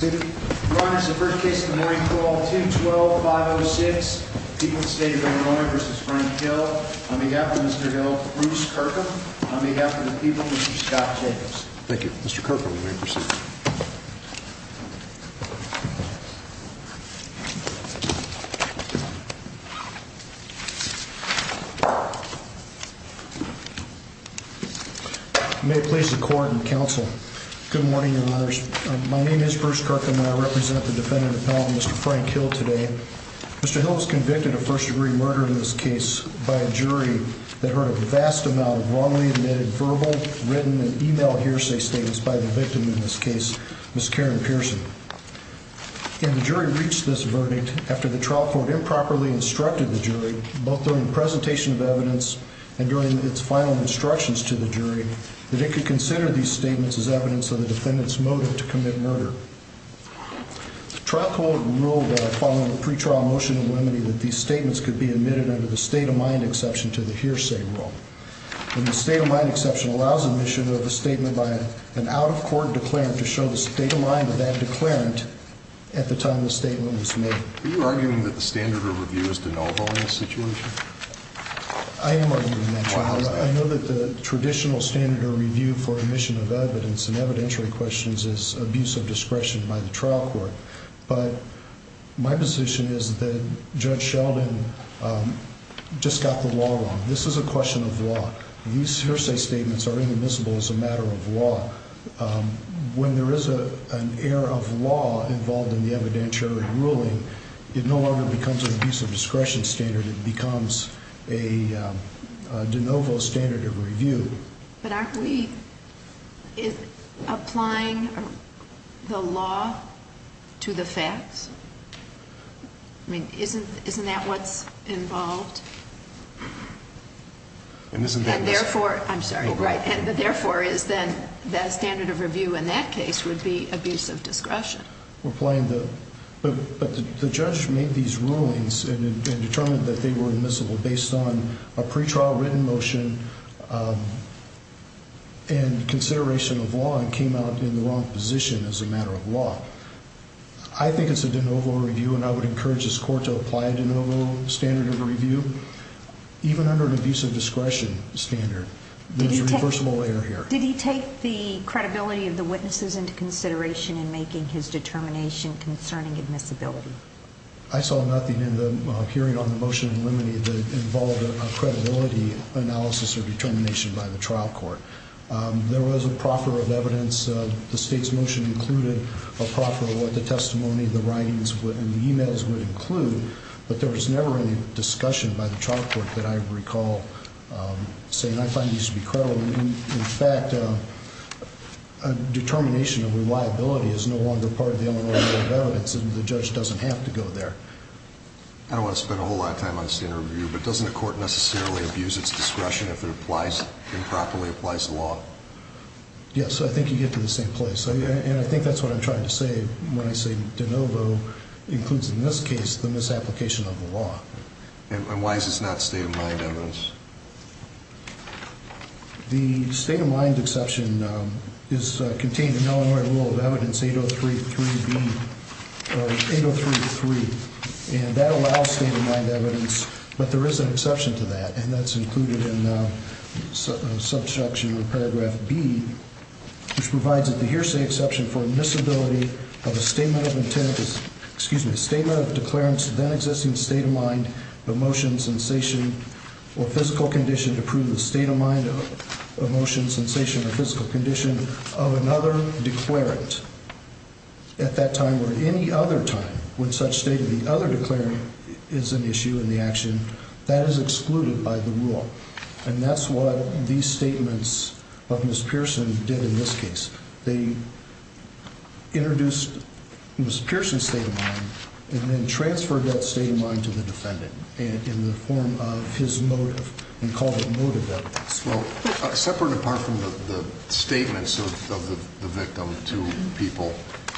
on behalf of the people, Mr. Scott Jacobs. Thank you, Mr. Kirkham, may I proceed? May it please the court and counsel. Good morning, Your Honors. My name is Bruce Kirkham and I represent the defendant appellant, Mr. Frank Hill, today. Mr. Hill was convicted of first degree murder in this case by a jury that heard a vast amount of wrongly admitted verbal, written, and emailed hearsay statements by the victim in this case, Ms. Karen Pearson. And the jury reached this verdict after the trial court improperly instructed the jury, both during the presentation of evidence and during its final instructions to the jury, that it could consider these statements as evidence of the defendant's motive to commit murder. The trial court ruled following the pre-trial motion of limiting that these statements could be admitted under the state-of-mind exception to the hearsay rule. And the state-of-mind exception allows admission of a statement by an out-of-court declarant to show the state-of-mind of that declarant at the time the statement was made. Are you arguing that the standard of review is de novo in this situation? I am arguing that, Your Honor. I know that the traditional standard of review for admission of evidence and evidentiary questions is abuse of discretion by the trial court. But my position is that Judge Sheldon just got the law wrong. This is a question of law. These hearsay statements are inadmissible as a matter of law. When there is an error of law involved in the evidentiary ruling, it no longer becomes an abuse of discretion standard. It becomes a de novo standard of review. But are we applying the law to the facts? I mean, isn't that what's involved? And therefore, I'm sorry, right, and therefore is then the standard of review in that case would be abuse of discretion. But the judge made these rulings and determined that they were admissible based on a pre-trial written motion and consideration of law and came out in the wrong position as a matter of law. I think it's a de novo review and I would encourage this court to apply a de novo standard of review even under an abuse of discretion standard. There's a reversible error here. Did he take the credibility of the witnesses into consideration in making his determination concerning admissibility? I saw nothing in the hearing on the motion that it involved a credibility analysis or determination by the trial court. There was a proffer of evidence. The state's motion included a proffer of what the testimony, the writings, and the e-mails would include, but there was never any discussion by the trial court that I recall saying I find these to be credible. In fact, a determination of reliability is no longer part of the Illinois Court of Evidence and the judge doesn't have to go there. I don't want to spend a whole lot of time on standard of review, but doesn't the court necessarily abuse its discretion if it applies and properly applies the law? Yes, I think you get to the same place. And I think that's what I'm trying to say when I say de novo includes in this case the misapplication of the law. And why is this not state of mind evidence? The state of mind exception is contained in Illinois Rule of Evidence 803.3b. And that allows state of mind evidence, but there is an exception to that and that's included in Subsection or Paragraph B, which provides that the hearsay exception for admissibility of a statement of intent is, excuse me, a statement of declarance of then existing state of mind, emotion, sensation, or physical condition to prove the state of mind, emotion, sensation, or physical condition of another declarant at that time or at any other time when such state of the other declaring is an issue in the action, that is excluded by the rule. And that's what these statements of Ms. Pearson did in this case. They introduced Ms. Pearson's state of mind and then transferred that state of mind to the defendant in the form of his motive evidence. Well, separate apart from the statements of the victim to people,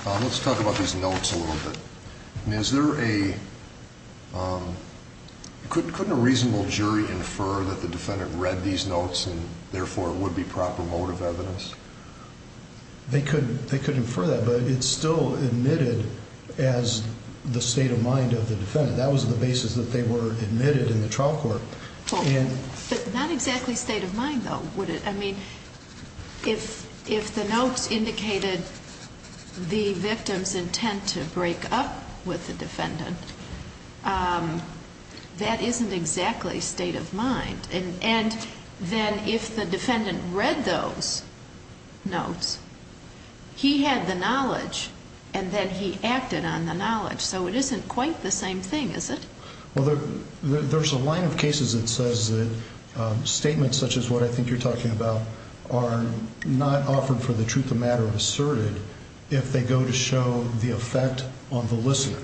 let's talk about these notes a little bit. And is there a, couldn't a reasonable jury infer that the defendant read these notes and therefore it would be proper motive evidence? They could infer that, but it's still admitted as the state of mind of the defendant. That was the basis that they were admitted in the trial court. But not exactly state of mind, though, would it? I mean, if the notes indicated the victim's intent to break up with the defendant, that isn't exactly state of mind. And then if the defendant read those notes, he had the knowledge and then he acted on the knowledge. So it isn't quite the same thing, is it? Well, there's a line of cases that says that statements such as what I think you're talking about are not offered for the truth of matter asserted if they go to show the effect on the listener.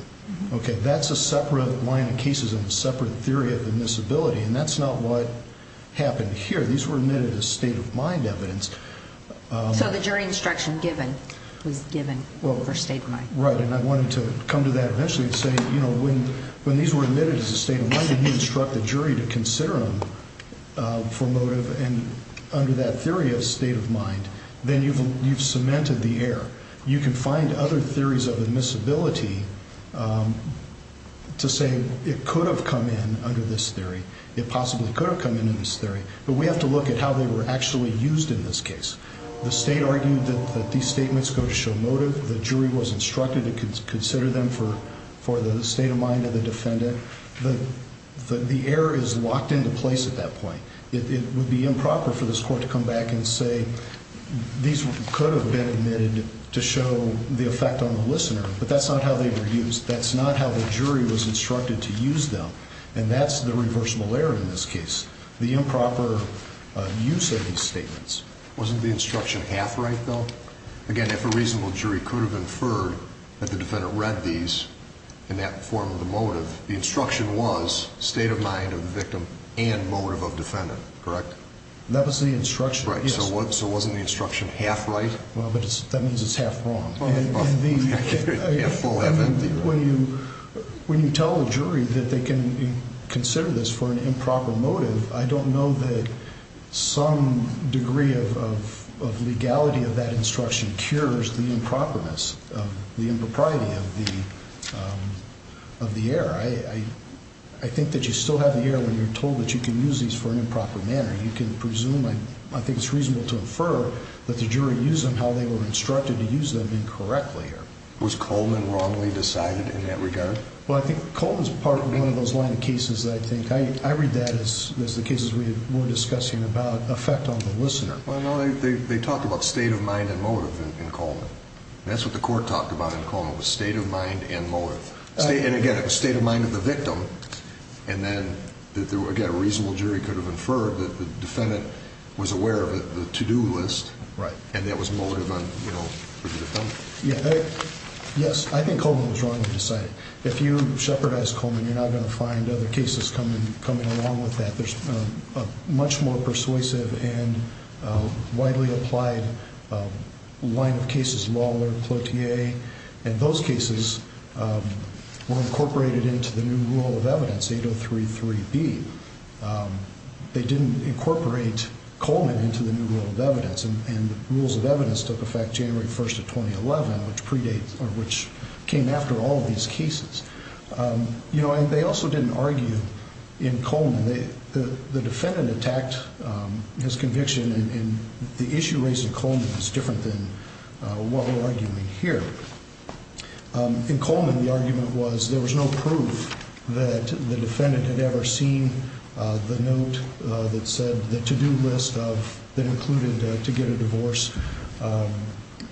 Okay, that's a separate line of cases and a separate theory of admissibility. And that's not what happened here. These were admitted as state of mind evidence. So the jury instruction given was given for state of mind. Right, and I wanted to come to that eventually and say, you know, when these were admitted as a state of mind and you instruct the jury to consider them for motive and under that theory of state of mind, then you've cemented the air. You can find other theories of admissibility to say it could have come in under this theory. It possibly could have come in in this theory, but we have to look at how they were actually used in this case. The state argued that these statements go to show motive. The jury was instructed to consider them for the state of mind of the defendant. The air is locked into place at that point. It would be improper for this court to come back and say these could have been admitted to show the effect on the listener, but that's not how they were used. That's not how the jury was instructed to use them. And that's the reversible error in this case. The improper use of these statements. Wasn't the instruction half right, though? Again, if a reasonable jury could have inferred that the defendant read these in that form of the motive, the instruction was state of mind of the victim and motive of defendant, correct? That was the instruction, yes. Right, so wasn't the instruction half right? Well, that means it's half wrong. When you tell the jury that they can consider this for an improper motive, I don't know that some degree of legality of that instruction cures the improperness, the impropriety of the error. I think that you still have the error when you're told that you can use these for an improper manner. You can presume, I think it's reasonable to infer, that the jury used them how they were instructed to use them incorrectly. Was Coleman wrongly decided in that regard? Well, I think Coleman's part of one of those line of cases, I think. I read that as the cases we were discussing about effect on the listener. Well, no, they talked about state of mind and motive in Coleman. That's what the court talked about in Coleman, was state of mind and motive. And again, it was state of mind of the victim, and then, again, a reasonable jury could have inferred that the defendant was aware of the to-do list, and that was motive on the defendant. Yes, I think Coleman was wrongly decided. If you shepherdize Coleman, you're not going to find other cases coming along with that. There's a much more persuasive and widely applied line of cases, Lawler, Cloutier, and those cases were incorporated into the new rule of evidence, 8033B. They didn't incorporate Coleman into the new rule of evidence, and the rules of evidence took effect January 1st of 2011, which predates, or which came after all of these cases. You know, and they also didn't argue in Coleman. The defendant attacked his conviction, and the issue raised in Coleman is different than what we're seen the note that said the to-do list that included to get a divorce.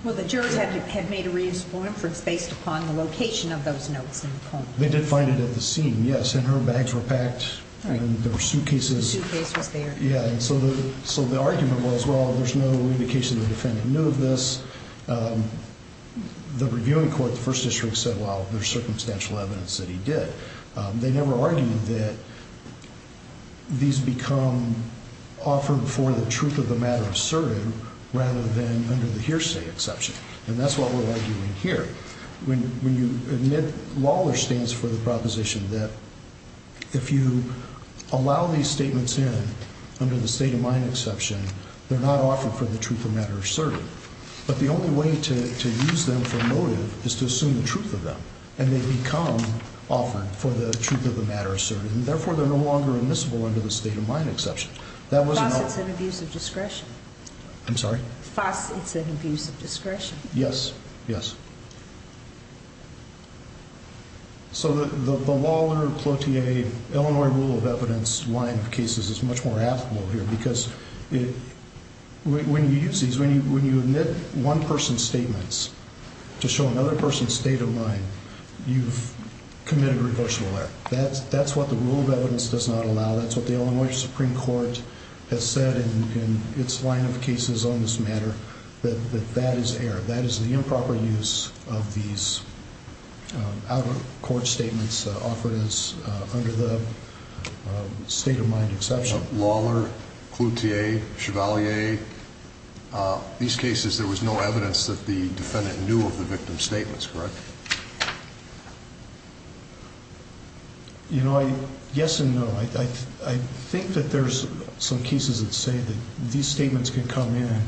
Well, the jurors had made a reasonable inference based upon the location of those notes in Coleman. They did find it at the scene, yes, and her bags were packed, and there were suitcases. The suitcase was there. Yeah, and so the argument was, well, there's no indication the defendant knew of this. The reviewing court, the first district, said, well, there's circumstantial evidence that he did. They never argued that these become offered for the truth of the matter asserted rather than under the hearsay exception, and that's what we're arguing here. When you admit Lawler stands for the proposition that if you allow these statements in under the state of mind exception, they're not offered for the truth of matter asserted, but the only way to use them for motive is to assume the truth of them, and they become offered for the truth of the matter asserted, and therefore, they're no longer admissible under the state of mind exception. Thus, it's an abuse of discretion. I'm sorry? Thus, it's an abuse of discretion. Yes, yes. So the Lawler, Cloutier, Illinois rule of evidence line of cases is much more applicable here because when you use these, when you admit one person's statements to show another person's state of mind, you've committed reversible error. That's what the rule of evidence does not allow. That's what the Illinois Supreme Court has said in its line of cases on this matter, that that is error. That is the improper use of these outer court statements offered as under the state of mind exception. So Lawler, Cloutier, Chevalier, these cases, there was no evidence that the defendant knew of the victim's statements, correct? You know, yes and no. I think that there's some cases that say that these statements can come in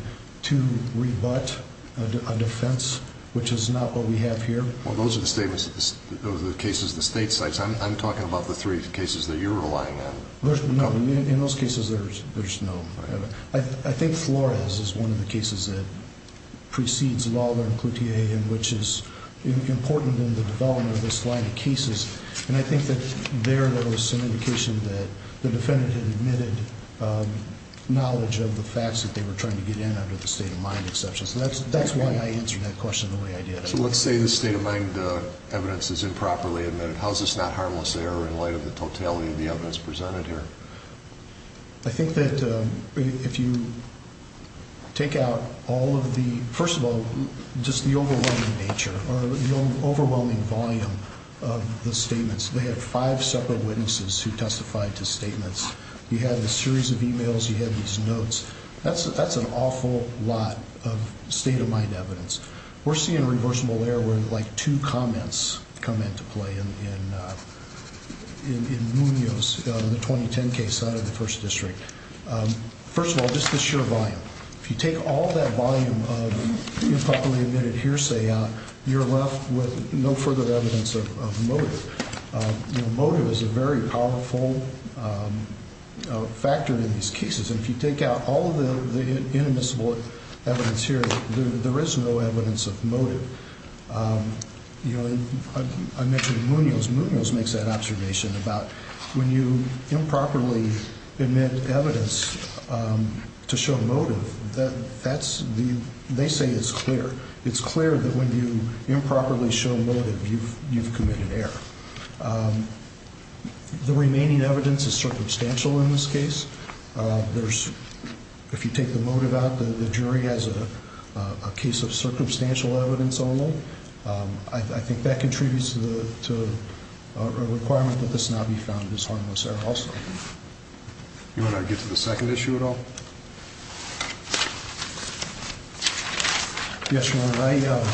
to rebut a defense, which is not what we have here. Well, those are the statements, those are the cases the state cites. I'm talking about the three cases that you're relying on. No, in those cases, there's no evidence. I think Flores is one of the cases that precedes Lawler and Cloutier, which is important in the development of this line of cases. And I think that there, there was some indication that the defendant had admitted knowledge of the facts that they were trying to get in under the state of mind exception. So that's why I answered that question the way I did. So let's say the state of mind evidence is improperly admitted. How is this not harmless there in light of the totality of the evidence presented here? I think that if you take out all of the, first of all, just the overwhelming nature or the overwhelming volume of the statements, they had five separate witnesses who testified to statements. You had a series of emails, you had these notes. That's, that's an awful lot of state of mind evidence. We're seeing a reversible error where like two comments come into play in Munoz in the 2010 case out of the first district. First of all, just the sheer volume. If you take all that volume of improperly admitted hearsay out, you're left with no further evidence of motive. Motive is a very powerful factor in these cases. And if you take out all of the inadmissible evidence here, there is no evidence of motive. Um, you know, I mentioned Munoz. Munoz makes that observation about when you improperly admit evidence, um, to show motive that that's the, they say it's clear. It's clear that when you improperly show motive, you've, you've committed error. Um, the remaining evidence is circumstantial in this case. Uh, there's, if you take the motive out, the jury has a, a case of circumstantial evidence only. Um, I think that contributes to the, to a requirement that this not be found as harmless error also. You want to get to the second issue at all? Yes, Your Honor. I, uh,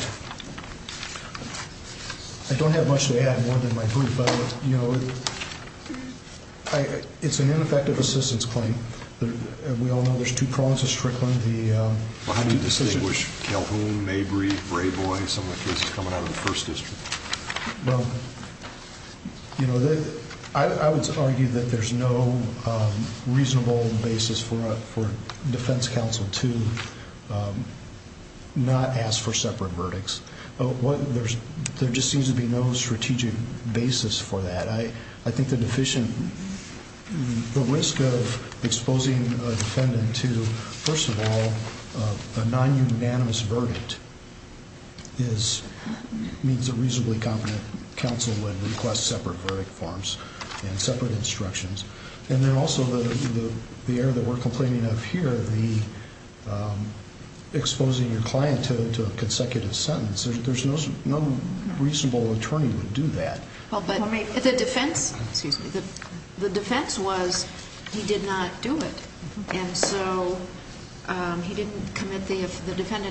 I don't have much to add more than my group, but you know, I, it's an ineffective assistance claim. We all know there's two prongs of Strickland, the Calhoun, Mabry, Brayboy, some of the cases coming out of the first district. Well, you know, I, I would argue that there's no, um, reasonable basis for a, for defense counsel to, um, not ask for separate verdicts. What there's, there just seems to be no strategic basis for that. I, I think the deficient, the risk of exposing a defendant to, first of all, a non-unanimous verdict is, means a reasonably competent counsel would request separate verdict forms and separate instructions. And then also the, the, the error that we're complaining of here, the, um, exposing your client to, to a consecutive sentence, there's no, no reasonable attorney would do that. Well, but the defense, excuse me, the, the defendant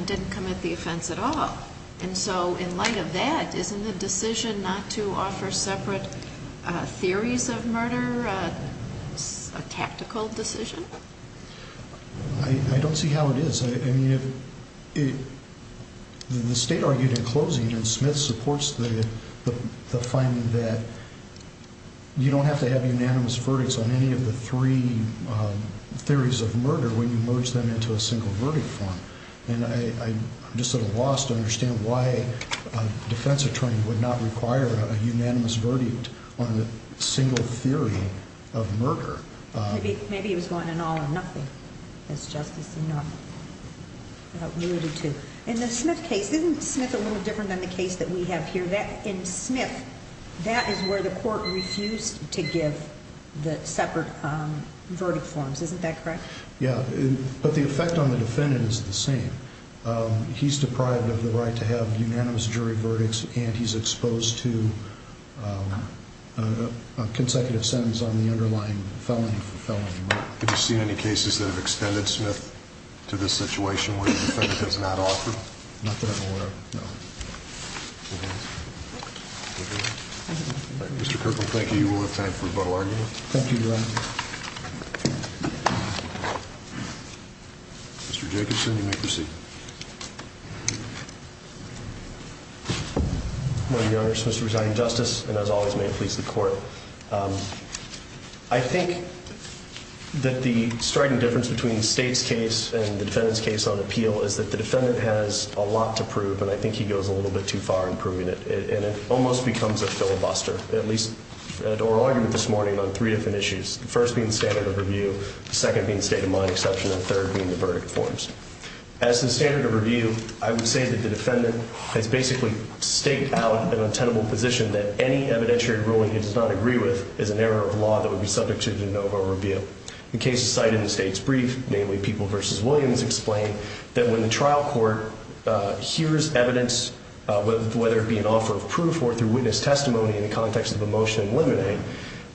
didn't commit the offense at all. And so in light of that, isn't the decision not to offer separate, uh, theories of murder, uh, a tactical decision? I, I don't see how it is. I mean, if it, the state argued in closing and Smith supports the, the, the finding that you don't have to have unanimous verdicts on any of the three, um, theories of murder when you merge them into a single verdict form. And I, I'm just at a loss to understand why a defensive attorney would not require a unanimous verdict on the single theory of murder. Maybe, maybe it was going in all or nothing as justice, you know, related to in the Smith case, isn't Smith a little different than the case that we have here that in Smith, that is where the court refused to give the separate, um, verdict forms. Isn't that correct? Yeah. But the effect on the defendant is the same. Um, he's deprived of the right to have unanimous jury verdicts and he's exposed to, um, a consecutive sentence on the underlying felony for felony murder. Have you seen any cases that have extended Smith to this situation where the defendant does not offer? Not that I'm aware of. No. Mr. Kirkland, thank you. We'll have time for a bottle argument. Thank you. Mr. Jacobson, you may proceed. Well, your Honor, Mr. Residing Justice, and as always may it please the court. Um, I think that the striking difference between the state's case and the defendant's case on appeal is that the defendant has a lot to prove and I think he goes a little bit too far in proving it and it almost becomes a filibuster, at least in our argument this morning on three different issues. The first being standard of review, the second being state of mind exception, and the third being the verdict forms. As the standard of review, I would say that the defendant has basically staked out an untenable position that any evidentiary ruling he does not agree with is an error of law that would be subject to de novo review. The case cited in the state's brief, namely People v. Williams, explained that when the witness testimony in the context of a motion eliminate,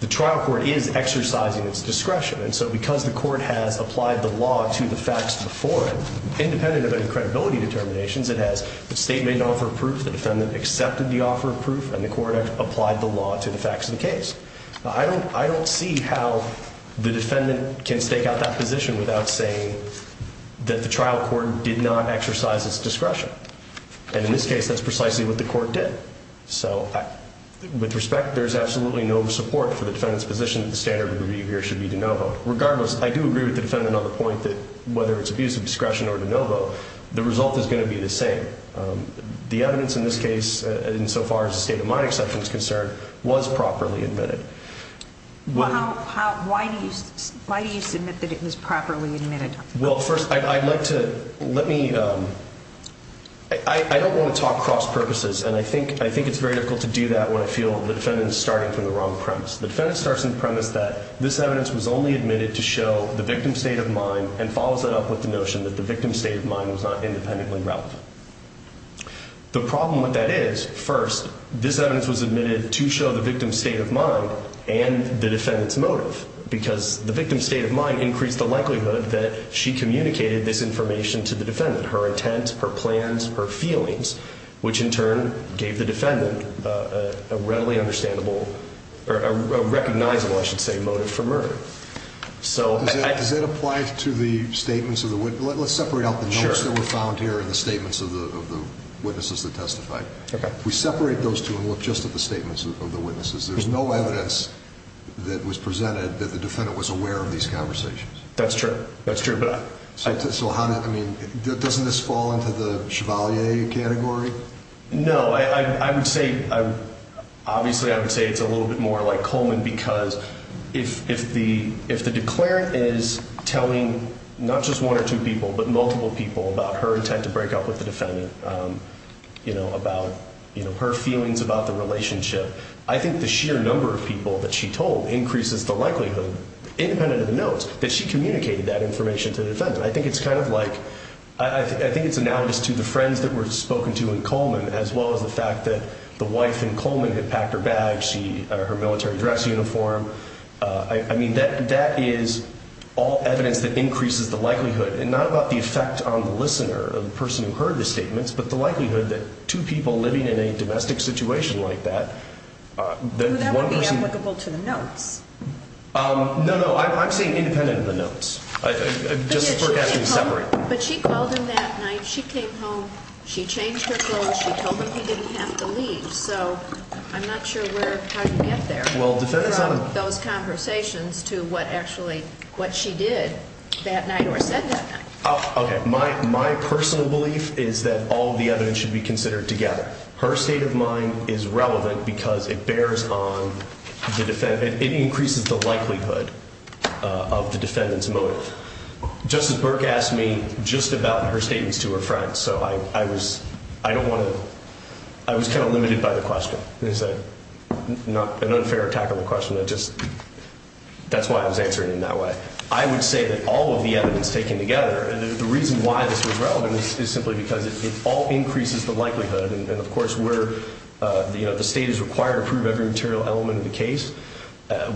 the trial court is exercising its discretion. And so because the court has applied the law to the facts before it, independent of any credibility determinations it has, the state made an offer of proof, the defendant accepted the offer of proof, and the court applied the law to the facts of the case. I don't see how the defendant can stake out that position without saying that the trial court did not exercise its discretion. And in this case, that's precisely what the court did. So with respect, there's absolutely no support for the defendant's position that the standard of review here should be de novo. Regardless, I do agree with the defendant on the point that whether it's abuse of discretion or de novo, the result is going to be the same. The evidence in this case, insofar as the state of mind exception is concerned, was properly admitted. Why do you submit that it was properly admitted? Well, first, I'd like to, let me, I don't want to talk cross purposes, and I think it's very difficult to do that when I feel the defendant is starting from the wrong premise. The defendant starts from the premise that this evidence was only admitted to show the victim's state of mind and follows that up with the notion that the victim's state of mind was not independently relevant. The problem with that is, first, this evidence was admitted to show the victim's state of mind and the defendant's motive, because the victim's state of mind increased the likelihood that she communicated this information to the defendant, her intent, her plans, her feelings, which in turn gave the defendant a readily understandable, a recognizable, I should say, motive for murder. Does that apply to the statements of the witness? Let's separate out the notes that were found here and the statements of the witnesses that testified. If we separate those two and look just at the statements of the witnesses, there's no evidence that was presented that the defendant was aware of these conversations. That's true. That's true. So doesn't this fall into the Chevalier category? No. Obviously, I would say it's a little bit more like Coleman, because if the declarant is telling not just one or two people, but multiple people about her intent to break up with the defendant, about her feelings about the relationship, I think the sheer number of people that she told increases the likelihood, independent of the notes, that she communicated that information to the defendant. I think it's analogous to the friends that were spoken to in Coleman, as well as the fact that the wife in Coleman had packed her bag, her military dress uniform. That is all evidence that increases the likelihood, and not about the effect on the listener, the person who heard the statements, but the No, no. I'm saying independent of the notes. But she called him that night. She came home. She changed her clothes. She told him he didn't have to leave. So I'm not sure how you get there from those conversations to what actually what she did that night or said that night. Okay. My personal belief is that all the evidence should be considered together. Her state of It increases the likelihood of the defendant's motive. Justice Burke asked me just about her statements to her friends, so I was kind of limited by the question. It's an unfair attack on the question. That's why I was answering in that way. I would say that all of the evidence taken together, and the reason why this was relevant is simply because it all increases the likelihood. And of course, where the state is required to prove every material element of the case,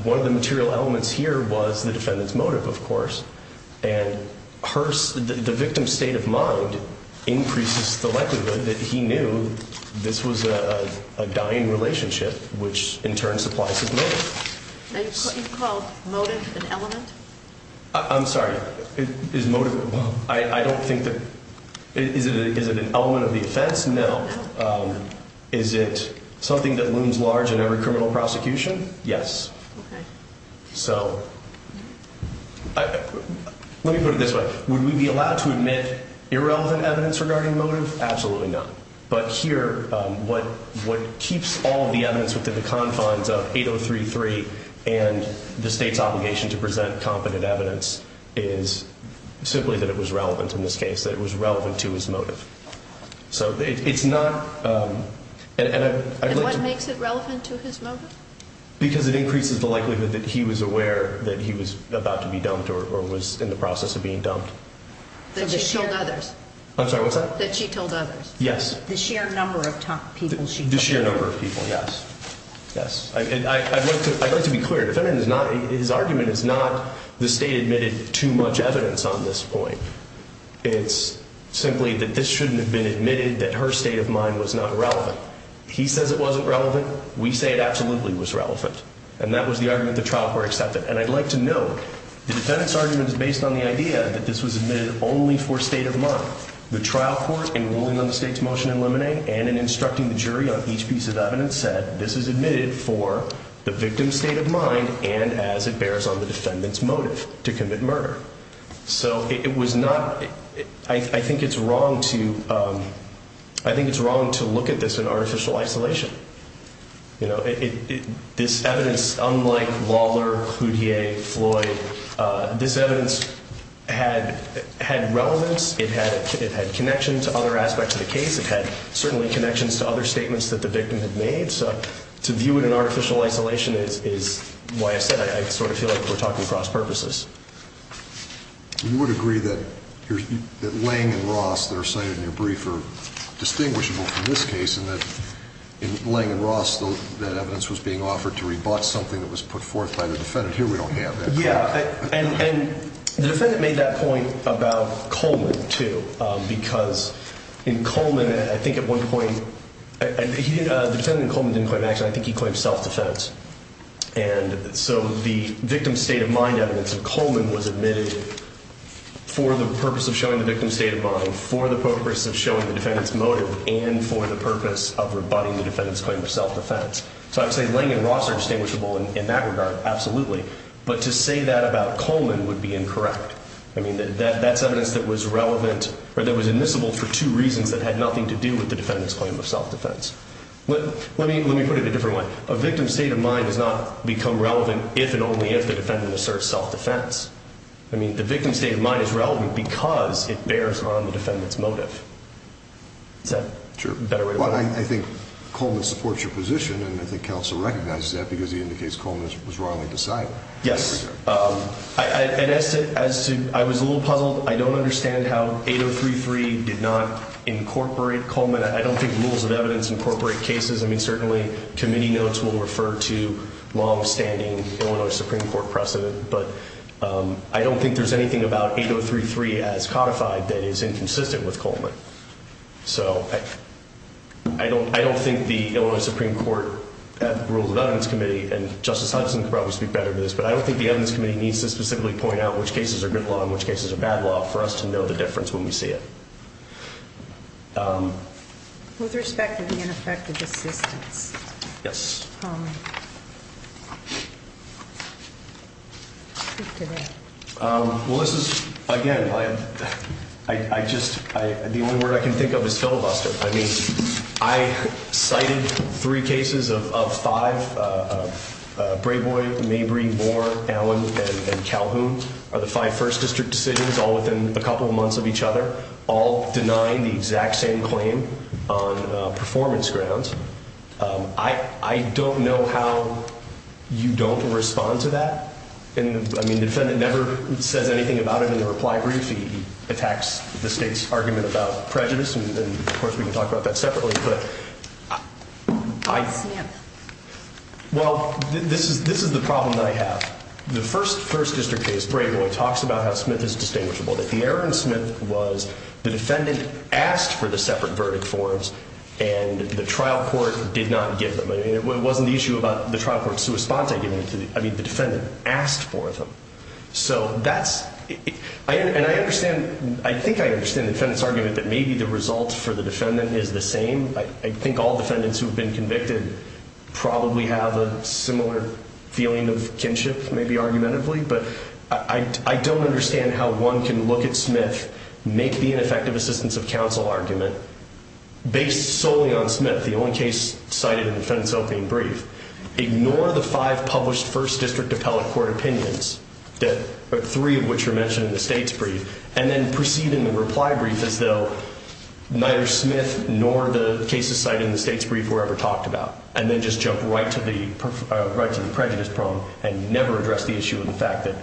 one of the material elements here was the defendant's motive, of course. And the victim's state of mind increases the likelihood that he knew this was a dying relationship, which in turn supplies his motive. You called motive an element? I'm sorry. Is motive? I don't think that. Is it an element of the offense? No. Is it something that looms large in every criminal prosecution? Yes. So let me put it this way. Would we be allowed to admit irrelevant evidence regarding motive? Absolutely not. But here, what what keeps all the evidence within the confines of 8033 and the state's obligation to present competent evidence is simply that it was relevant in this case, that it was relevant to his motive. So it's not. And what makes it relevant to his motive? Because it increases the likelihood that he was aware that he was about to be dumped or was in the process of being dumped. That she told others? I'm sorry, what's that? That she told others? Yes. The sheer number of people she told? The sheer number of people, yes. Yes. I'd like to be clear. His argument is not the state admitted too much evidence on this point. It's simply that this shouldn't have been admitted, that her state of mind was not relevant. He says it wasn't relevant. We say it absolutely was relevant. And that was the argument the trial court accepted. And I'd like to note, the defendant's argument is based on the idea that this was admitted only for state of mind. The trial court, in ruling on the state's motion in Lemonade and in instructing the jury on each piece of evidence, said this is admitted for the victim's state of mind and as it bears on the defendant's motive to commit murder. So it was not, I think it's wrong to, I think it's wrong to look at this in artificial isolation. This evidence, unlike Lawler, Houdier, Floyd, this evidence had relevance, it had connections to other aspects of the case, it had certainly connections to other statements that the victim had made. So to view it in artificial isolation is why I said, I sort of feel like we're talking cross-purposes. You would agree that Lange and Ross that are cited in your brief are distinguishable from this case in that in Lange and Ross, that evidence was being offered to rebut something that was put forth by the defendant. Here we don't have that. Yeah. And the defendant made that point about Coleman too, because in Coleman, I think at one point, the defendant in Coleman didn't claim action, I think he claimed self-defense. And so the victim's state of mind evidence of Coleman was admitted for the purpose of showing the victim's state of mind, for the purpose of showing the defendant's motive, and for the purpose of rebutting the defendant's claim of self-defense. So I would say Lange and Ross are distinguishable in that regard, absolutely. But to say that about Coleman would be incorrect. I mean, that's evidence that was relevant, or that was admissible for two reasons that had nothing to do with the defendant's claim of self-defense. Let me put it a different way. A victim's state of mind does not become relevant if and only if the defendant asserts self-defense. I mean, the victim's state of mind is relevant because it bears on the defendant's motive. Is that a better way to put it? Sure. Well, I think Coleman supports your position, and I think counsel recognizes that because he indicates Coleman was wrongly decided. Yes. And as to I was a little puzzled. I don't understand how 8033 did not incorporate Coleman. I don't think rules of evidence incorporate cases. I mean, certainly committee notes will refer to longstanding Illinois Supreme Court precedent, but I don't think there's anything about 8033 as codified that is inconsistent with Coleman. So I don't think the Illinois Supreme Court rules of evidence committee, and Justice Hudson could probably speak better to this, but I don't think it's a good law, in which case it's a bad law, for us to know the difference when we see it. With respect to the ineffective assistance. Yes. Well, this is, again, I just, the only word I can think of is filibuster. I mean, I cited three cases of five. Brayboy, Mabry, Moore, Allen and Calhoun are the five first district decisions all within a couple of months of each other, all denying the exact same claim on performance grounds. I don't know how you don't respond to that. And I mean, the defendant never says anything about it in the reply brief. He attacks the state's argument about prejudice. And of course, we can talk about that separately, but I, well, this is, this is the problem that I have. The first first district case, Brayboy talks about how Smith is distinguishable, that the error in Smith was the defendant asked for the separate verdict forms and the trial court did not give them. I mean, it wasn't the issue about the trial court's response. I mean, the defendant asked for them. So that's, and I understand, I think I understand the defendant's argument that the defendant is the same. I think all defendants who've been convicted probably have a similar feeling of kinship, maybe argumentatively, but I don't understand how one can look at Smith, make the ineffective assistance of counsel argument based solely on Smith. The only case cited in the defense opening brief, ignore the five published first district appellate court opinions that three of which are mentioned in the state's brief and then proceed in the reply brief as though neither Smith nor the cases cited in the state's brief were ever talked about. And then just jump right to the prejudice problem and never address the issue of the fact that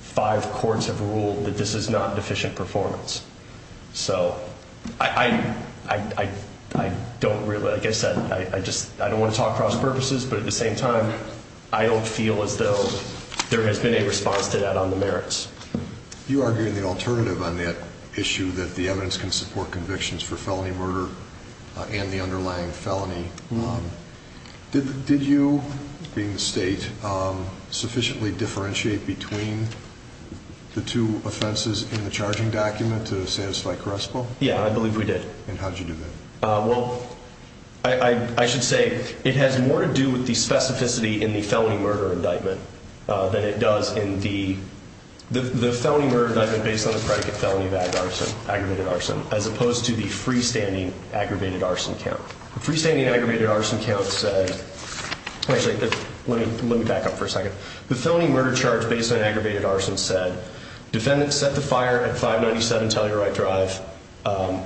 five courts have ruled that this is not deficient performance. So I, I, I, I don't really, like I said, I just, I don't want to talk cross purposes, but at the same time, I don't feel as though there has been a response to that on the merits. You are getting the alternative on that issue that the evidence can support convictions for felony murder and the underlying felony. Did, did you being the state sufficiently differentiate between the two offenses in the charging document to satisfy Crespo? Yeah, I believe we did. And how did you do that? Well, I, I, I should say it has more to do with the specificity in the felony murder indictment than it does in the, the, the felony murder indictment based on the predicate felony of aggravated arson, aggravated arson, as opposed to the freestanding aggravated arson count. The freestanding aggravated arson count said, actually let me, let me back up for a second. The felony murder charge based on aggravated arson said, defendant set the fire at 597 Telluride Drive,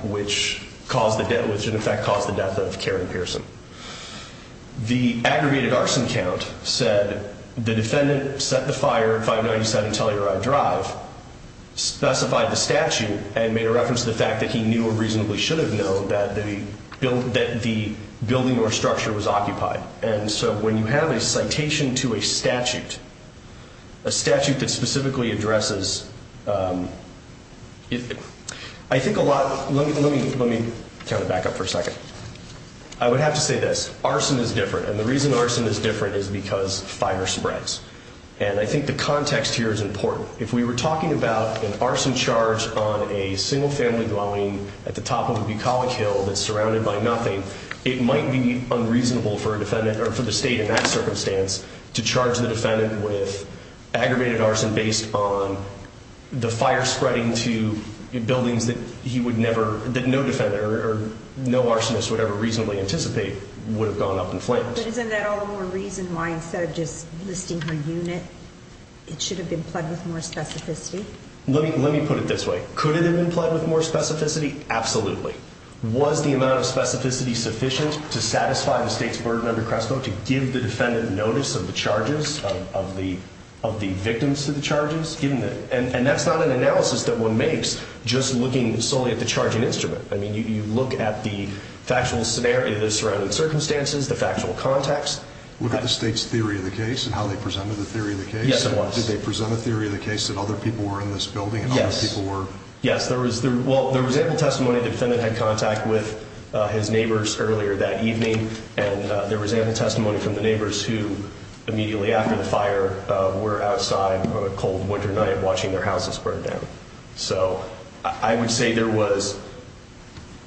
which caused the death, which in fact caused the death of Karen Pearson. The aggravated arson count said the defendant set the fire at 597 Telluride Drive, specified the statute and made a reference to the fact that he knew or reasonably should have known that the building, that the building or structure was occupied. And so when you have a citation to a statute, a statute that specifically addresses, um, I think a lot, let me, let me, let me count it back up for a second. I would have to say this arson is different. And the reason arson is different is because fire spreads. And I think the context here is important. If we were talking about an arson charge on a single family dwelling at the top of a bucolic hill that's surrounded by nothing, it might be unreasonable for a defendant or for the state in that circumstance to charge the defendant with aggravated arson based on the fire spreading to buildings that he would never, that no defendant or no arsonist would ever reasonably anticipate would have gone up in flames. But isn't that all the more reason why instead of just listing her unit, it should have been plugged with more specificity? Let me, let me put it this way. Could it have been plugged with more specificity? Absolutely. Was the amount of of the, of the victims to the charges given that, and that's not an analysis that one makes just looking solely at the charging instrument. I mean, you, you look at the factual scenario, the surrounding circumstances, the factual context, look at the state's theory of the case and how they presented the theory of the case. Did they present a theory of the case that other people were in this building and other people were, yes, there was there. Well, there was ample testimony. Defendant had contact with his neighbors earlier that immediately after the fire were outside on a cold winter night watching their houses burn down. So I would say there was,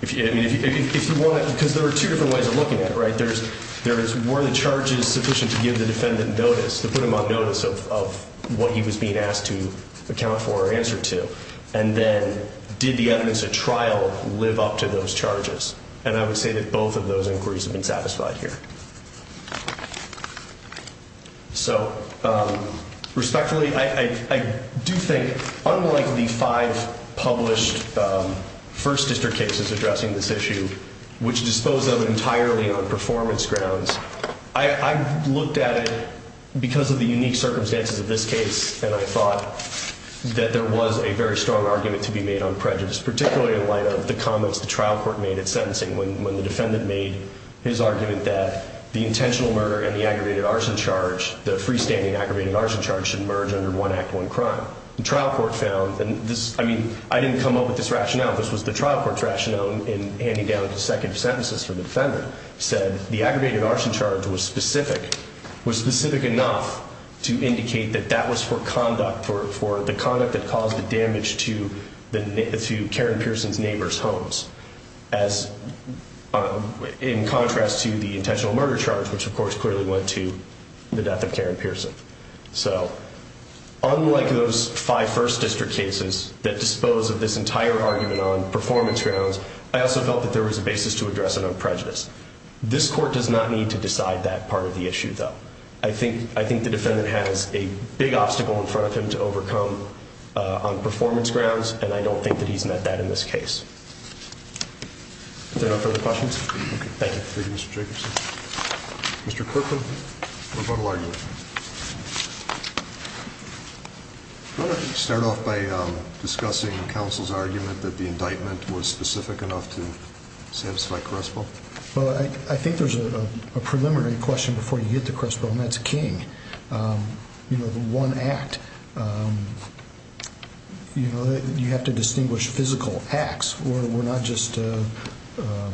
if you want to, because there were two different ways of looking at it, right? There's, there's, were the charges sufficient to give the defendant notice, to put him on notice of what he was being asked to account for or answer to? And then did the evidence at trial live up to those charges? And I would say that both of So, um, respectfully, I, I, I do think unlike the five published, um, first district cases addressing this issue, which dispose of entirely on performance grounds, I looked at it because of the unique circumstances of this case. And I thought that there was a very strong argument to be made on prejudice, particularly in light of the comments, the trial court made at sentencing when, when the defendant made his argument that the intentional murder and the aggravated arson charge, the freestanding aggravated arson charge should merge under one act, one crime. The trial court found, and this, I mean, I didn't come up with this rationale. This was the trial court's rationale in handing down the second sentences for the defendant said the aggravated arson charge was specific, was specific enough to indicate that that was for conduct for, for the conduct that caused the damage to the, to Karen Pearson's As, um, in contrast to the intentional murder charge, which of course clearly went to the death of Karen Pearson. So unlike those five first district cases that dispose of this entire argument on performance grounds, I also felt that there was a basis to address it on prejudice. This court does not need to decide that part of the issue though. I think, I think the defendant has a big obstacle in front of him to overcome, uh, on performance grounds. And I don't think that he's met that in this case. Is there no further questions? Thank you. Thank you, Mr. Jacobson. Mr. Kirkland, what about all arguments? Why don't we start off by, um, discussing counsel's argument that the indictment was specific enough to satisfy Crespo? Well, I, I think there's a preliminary question before you get to Crespo and that's King. Um, you know, the one act, um, you know, you have to distinguish physical acts or we're not just, uh, um,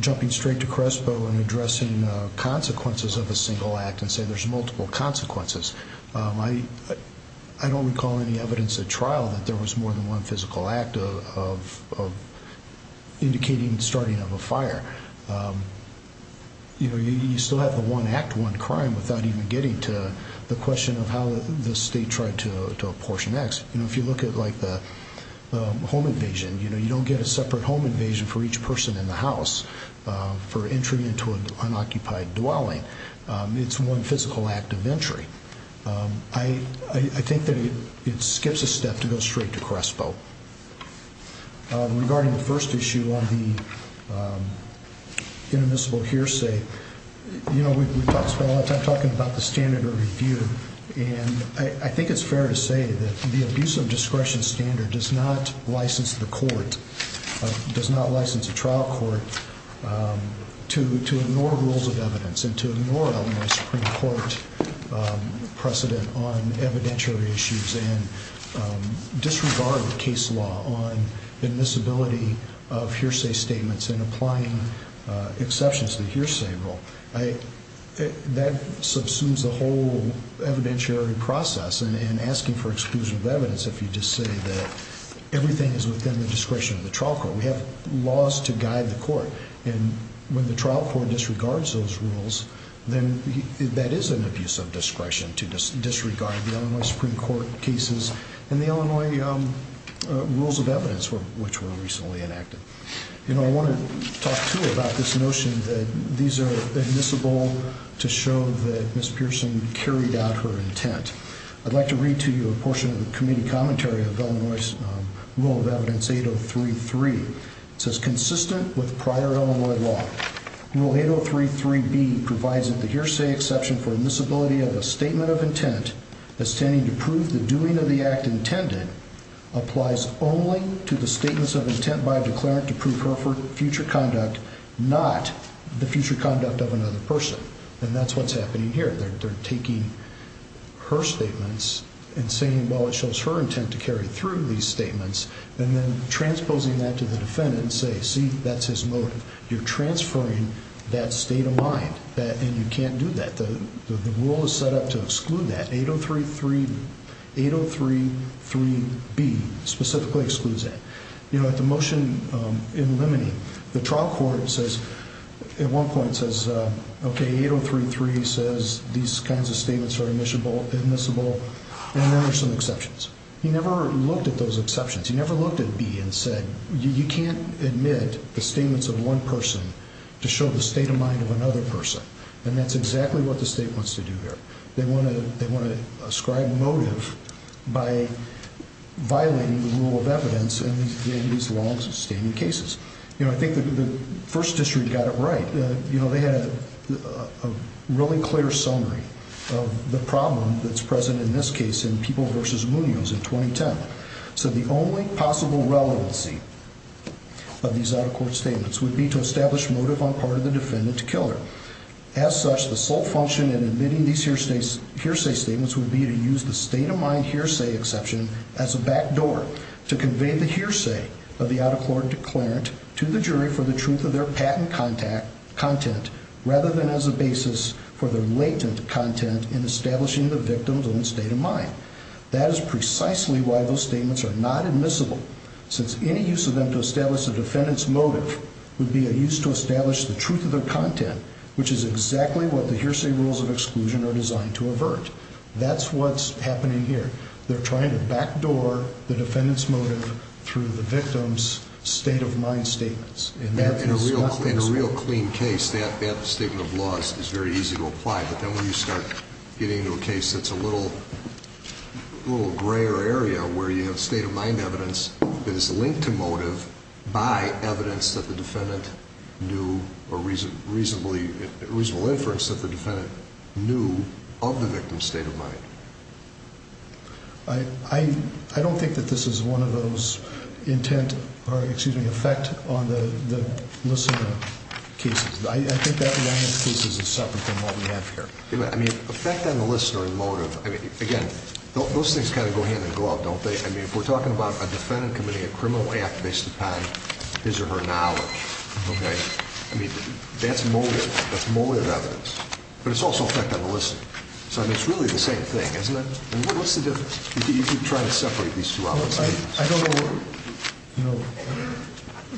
jumping straight to Crespo and addressing, uh, consequences of a single act and say there's multiple consequences. Um, I, I don't recall any evidence at trial that there was more than one physical act of, of, of indicating starting of a fire. Um, you know, you still have the one act, one crime without even getting to the question of how the state tried to, to apportion X. You know, if you look at like the, um, home invasion, you know, you don't get a separate home invasion for each person in the house, um, for entry into an unoccupied dwelling. Um, it's one physical act of entry. Um, I, I think that it, it skips a step to go straight to Crespo. Um, regarding the first issue on the, um, inadmissible hearsay, you know, we've, we've talked about a lot of time talking about the standard of review. And I think it's fair to say that the abuse of discretion standard does not license the court, does not license a trial court, um, to, to ignore rules of evidence and to ignore Illinois Supreme Court, um, precedent on evidentiary issues and, um, disregard the case law on admissibility of hearsay statements and applying, uh, exceptions to the hearsay rule. I, that subsumes the whole evidentiary process and, and asking for exclusion of evidence. If you just say that everything is within the discretion of the trial court, we have laws to guide the use of discretion to disregard the Illinois Supreme Court cases and the Illinois, um, rules of evidence for which were recently enacted. You know, I want to talk to you about this notion that these are admissible to show that Miss Pearson carried out her intent. I'd like to read to you a portion of the committee commentary of Illinois rule of evidence 8033. It says consistent with prior Illinois law. Rule 8033B provides that the hearsay exception for admissibility of a statement of intent as standing to prove the doing of the act intended applies only to the statements of intent by a declarant to prove her for future conduct, not the future conduct of another person. And that's what's happening here. They're, they're taking her statements and saying, well, it shows her intent to carry through these statements and then transposing that to the defendant and say, see, that's his motive. You're transferring that state of mind that, and you can't do that. The, the, the rule is set up to exclude that 8033, 8033B specifically excludes that, you know, at the motion, um, in limiting the trial court says at one point it says, uh, okay, 8033 says these kinds of statements are admissible admissible and there are some exceptions. He never looked at those exceptions. He never looked at B and said, you can't admit the statements of one person to show the state of mind of another person. And that's exactly what the state wants to do here. They want to, they want to ascribe motive by violating the rule of evidence in these longstanding cases. You know, I think the first district got it right. You know, they had a really clear summary of the problem that's present in this case in people versus Munoz in 2010. So the only possible relevancy of these out of court statements would be to establish motive on part of the defendant to kill her. As such, the sole function in admitting these hearsay statements would be to use the state of mind hearsay exception as a backdoor to convey the hearsay of the out of court declarant to the jury for the truth of their patent contact content rather than as a basis for the latent content in establishing the victim's own state of mind. That is precisely why those statements are not admissible since any use of them to establish the defendant's motive would be a use to establish the truth of their content, which is exactly what the hearsay rules of exclusion are designed to avert. That's what's happening here. They're trying to backdoor the defendant's motive through the victim's state of mind statements. In a real clean case, that statement of loss is very easy to apply. But then when you start getting into a case that's a little grayer area where you have state of mind evidence that is linked to motive by evidence that the defendant knew or reasonable inference that the defendant knew of the victim's state of mind. I don't think that this is one of those intent or excuse me, effect on the listener cases. I think that one of the cases is separate from what we have here. I mean, effect on the listener and motive. I mean, again, those things kind of go hand in glove, don't they? I mean, if we're talking about a defendant committing a criminal act based upon his or her knowledge, okay, I mean, that's motive. That's motive evidence. But it's also effect on the listener. So I mean, it's really the same thing, isn't it? And what's the difference? You keep trying to separate these two out. I don't know, you know,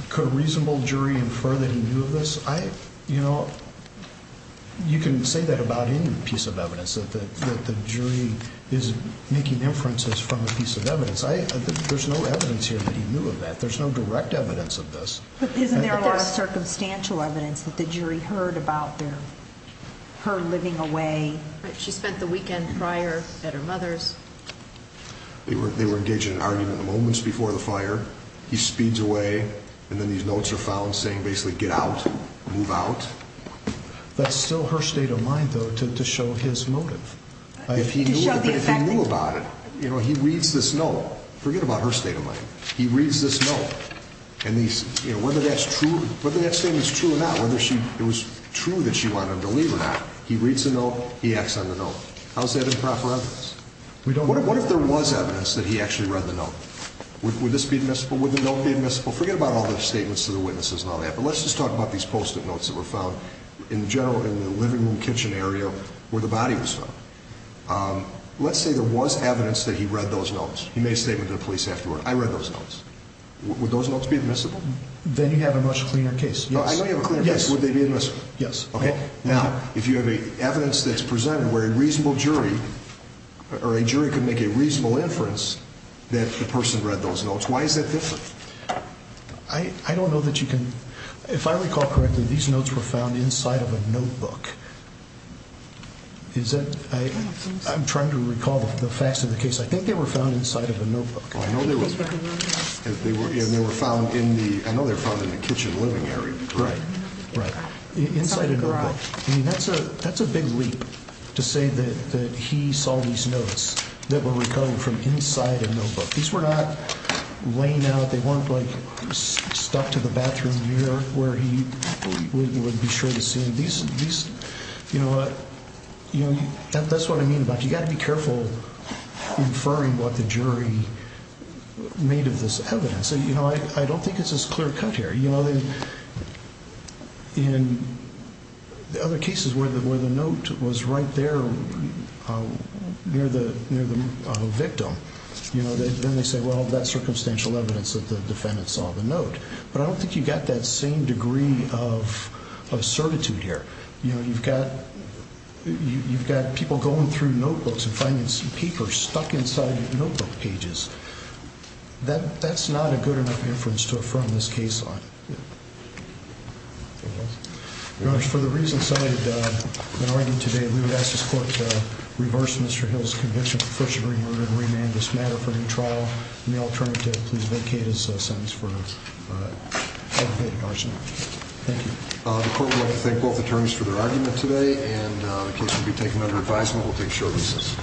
could a reasonable jury infer that he knew of this? I, you know, you can say that about any piece of evidence that the jury is making inferences from a piece of evidence. I, there's no evidence here that he knew of that. There's no direct evidence of this. Isn't there a lot of circumstantial evidence that the jury heard about their, her living away? She spent the weekend prior at her mother's. They were engaged in an argument moments before the fire. He speeds away and then these notes are found saying basically get out, move out. That's still her state of mind though, to show his motive. If he knew about it, you know, he reads this note, forget about her state of mind. He reads this note and these, you know, whether that's true, whether that statement is true or not, whether she, it was true that she wanted him to leave or not. He reads the note, he acts on the note. How's that improper evidence? We don't know. What if there was evidence that he actually read the note? Would this be admissible? Would Yes, I think that would be admissible. All the statements to the witnesses and all that, but let's just talk about these post-it notes that were found in general in the living room kitchen area where the body was found. Let's say there was evidence that he read those notes. He made a statement to the police afterward. I read those notes. Would those notes be admissible? Then you have a much cleaner case. I know you have a cleaner case. Would they be admissible? Yes. Okay. Now, if you have evidence that's presented where a reasonable jury or a jury could make a reasonable inference that the person read those notes, why is that different? I don't know that you can... If I recall correctly, these notes were found inside of a notebook. Is that... I'm trying to recall the facts of the case. I think they were found inside of a notebook. I know they were found in the... I know they were found in the kitchen living area. Right. Right. Inside a notebook. I mean, that's a big leap to say that he saw these notes that were recovered from inside a notebook. These were not laying out. They weren't stuck to the bathroom mirror where he would be sure to see them. These... You know what? That's what I mean about you got to be careful inferring what the jury made of this evidence. So, you know, I don't think it's as clear-cut here. You know, in the other cases where the note was right there near the victim, you know, then they say, well, that's circumstantial evidence that the defendant saw the note. But I don't think you got that same degree of certitude here. You know, you've got people going through notebooks and finding some papers stuck inside notebook pages. That's not a good enough inference to affirm this case on. Your Honor, for the reasons cited in our argument today, we would ask this court to reverse Mr. Hill's conviction, prefer to remand this matter for new trial, and the alternative, please vacate his sentence for aggravated arson. Thank you. The court would like to thank both attorneys for their argument today, and the case will be taken under advisement. We'll take short recess.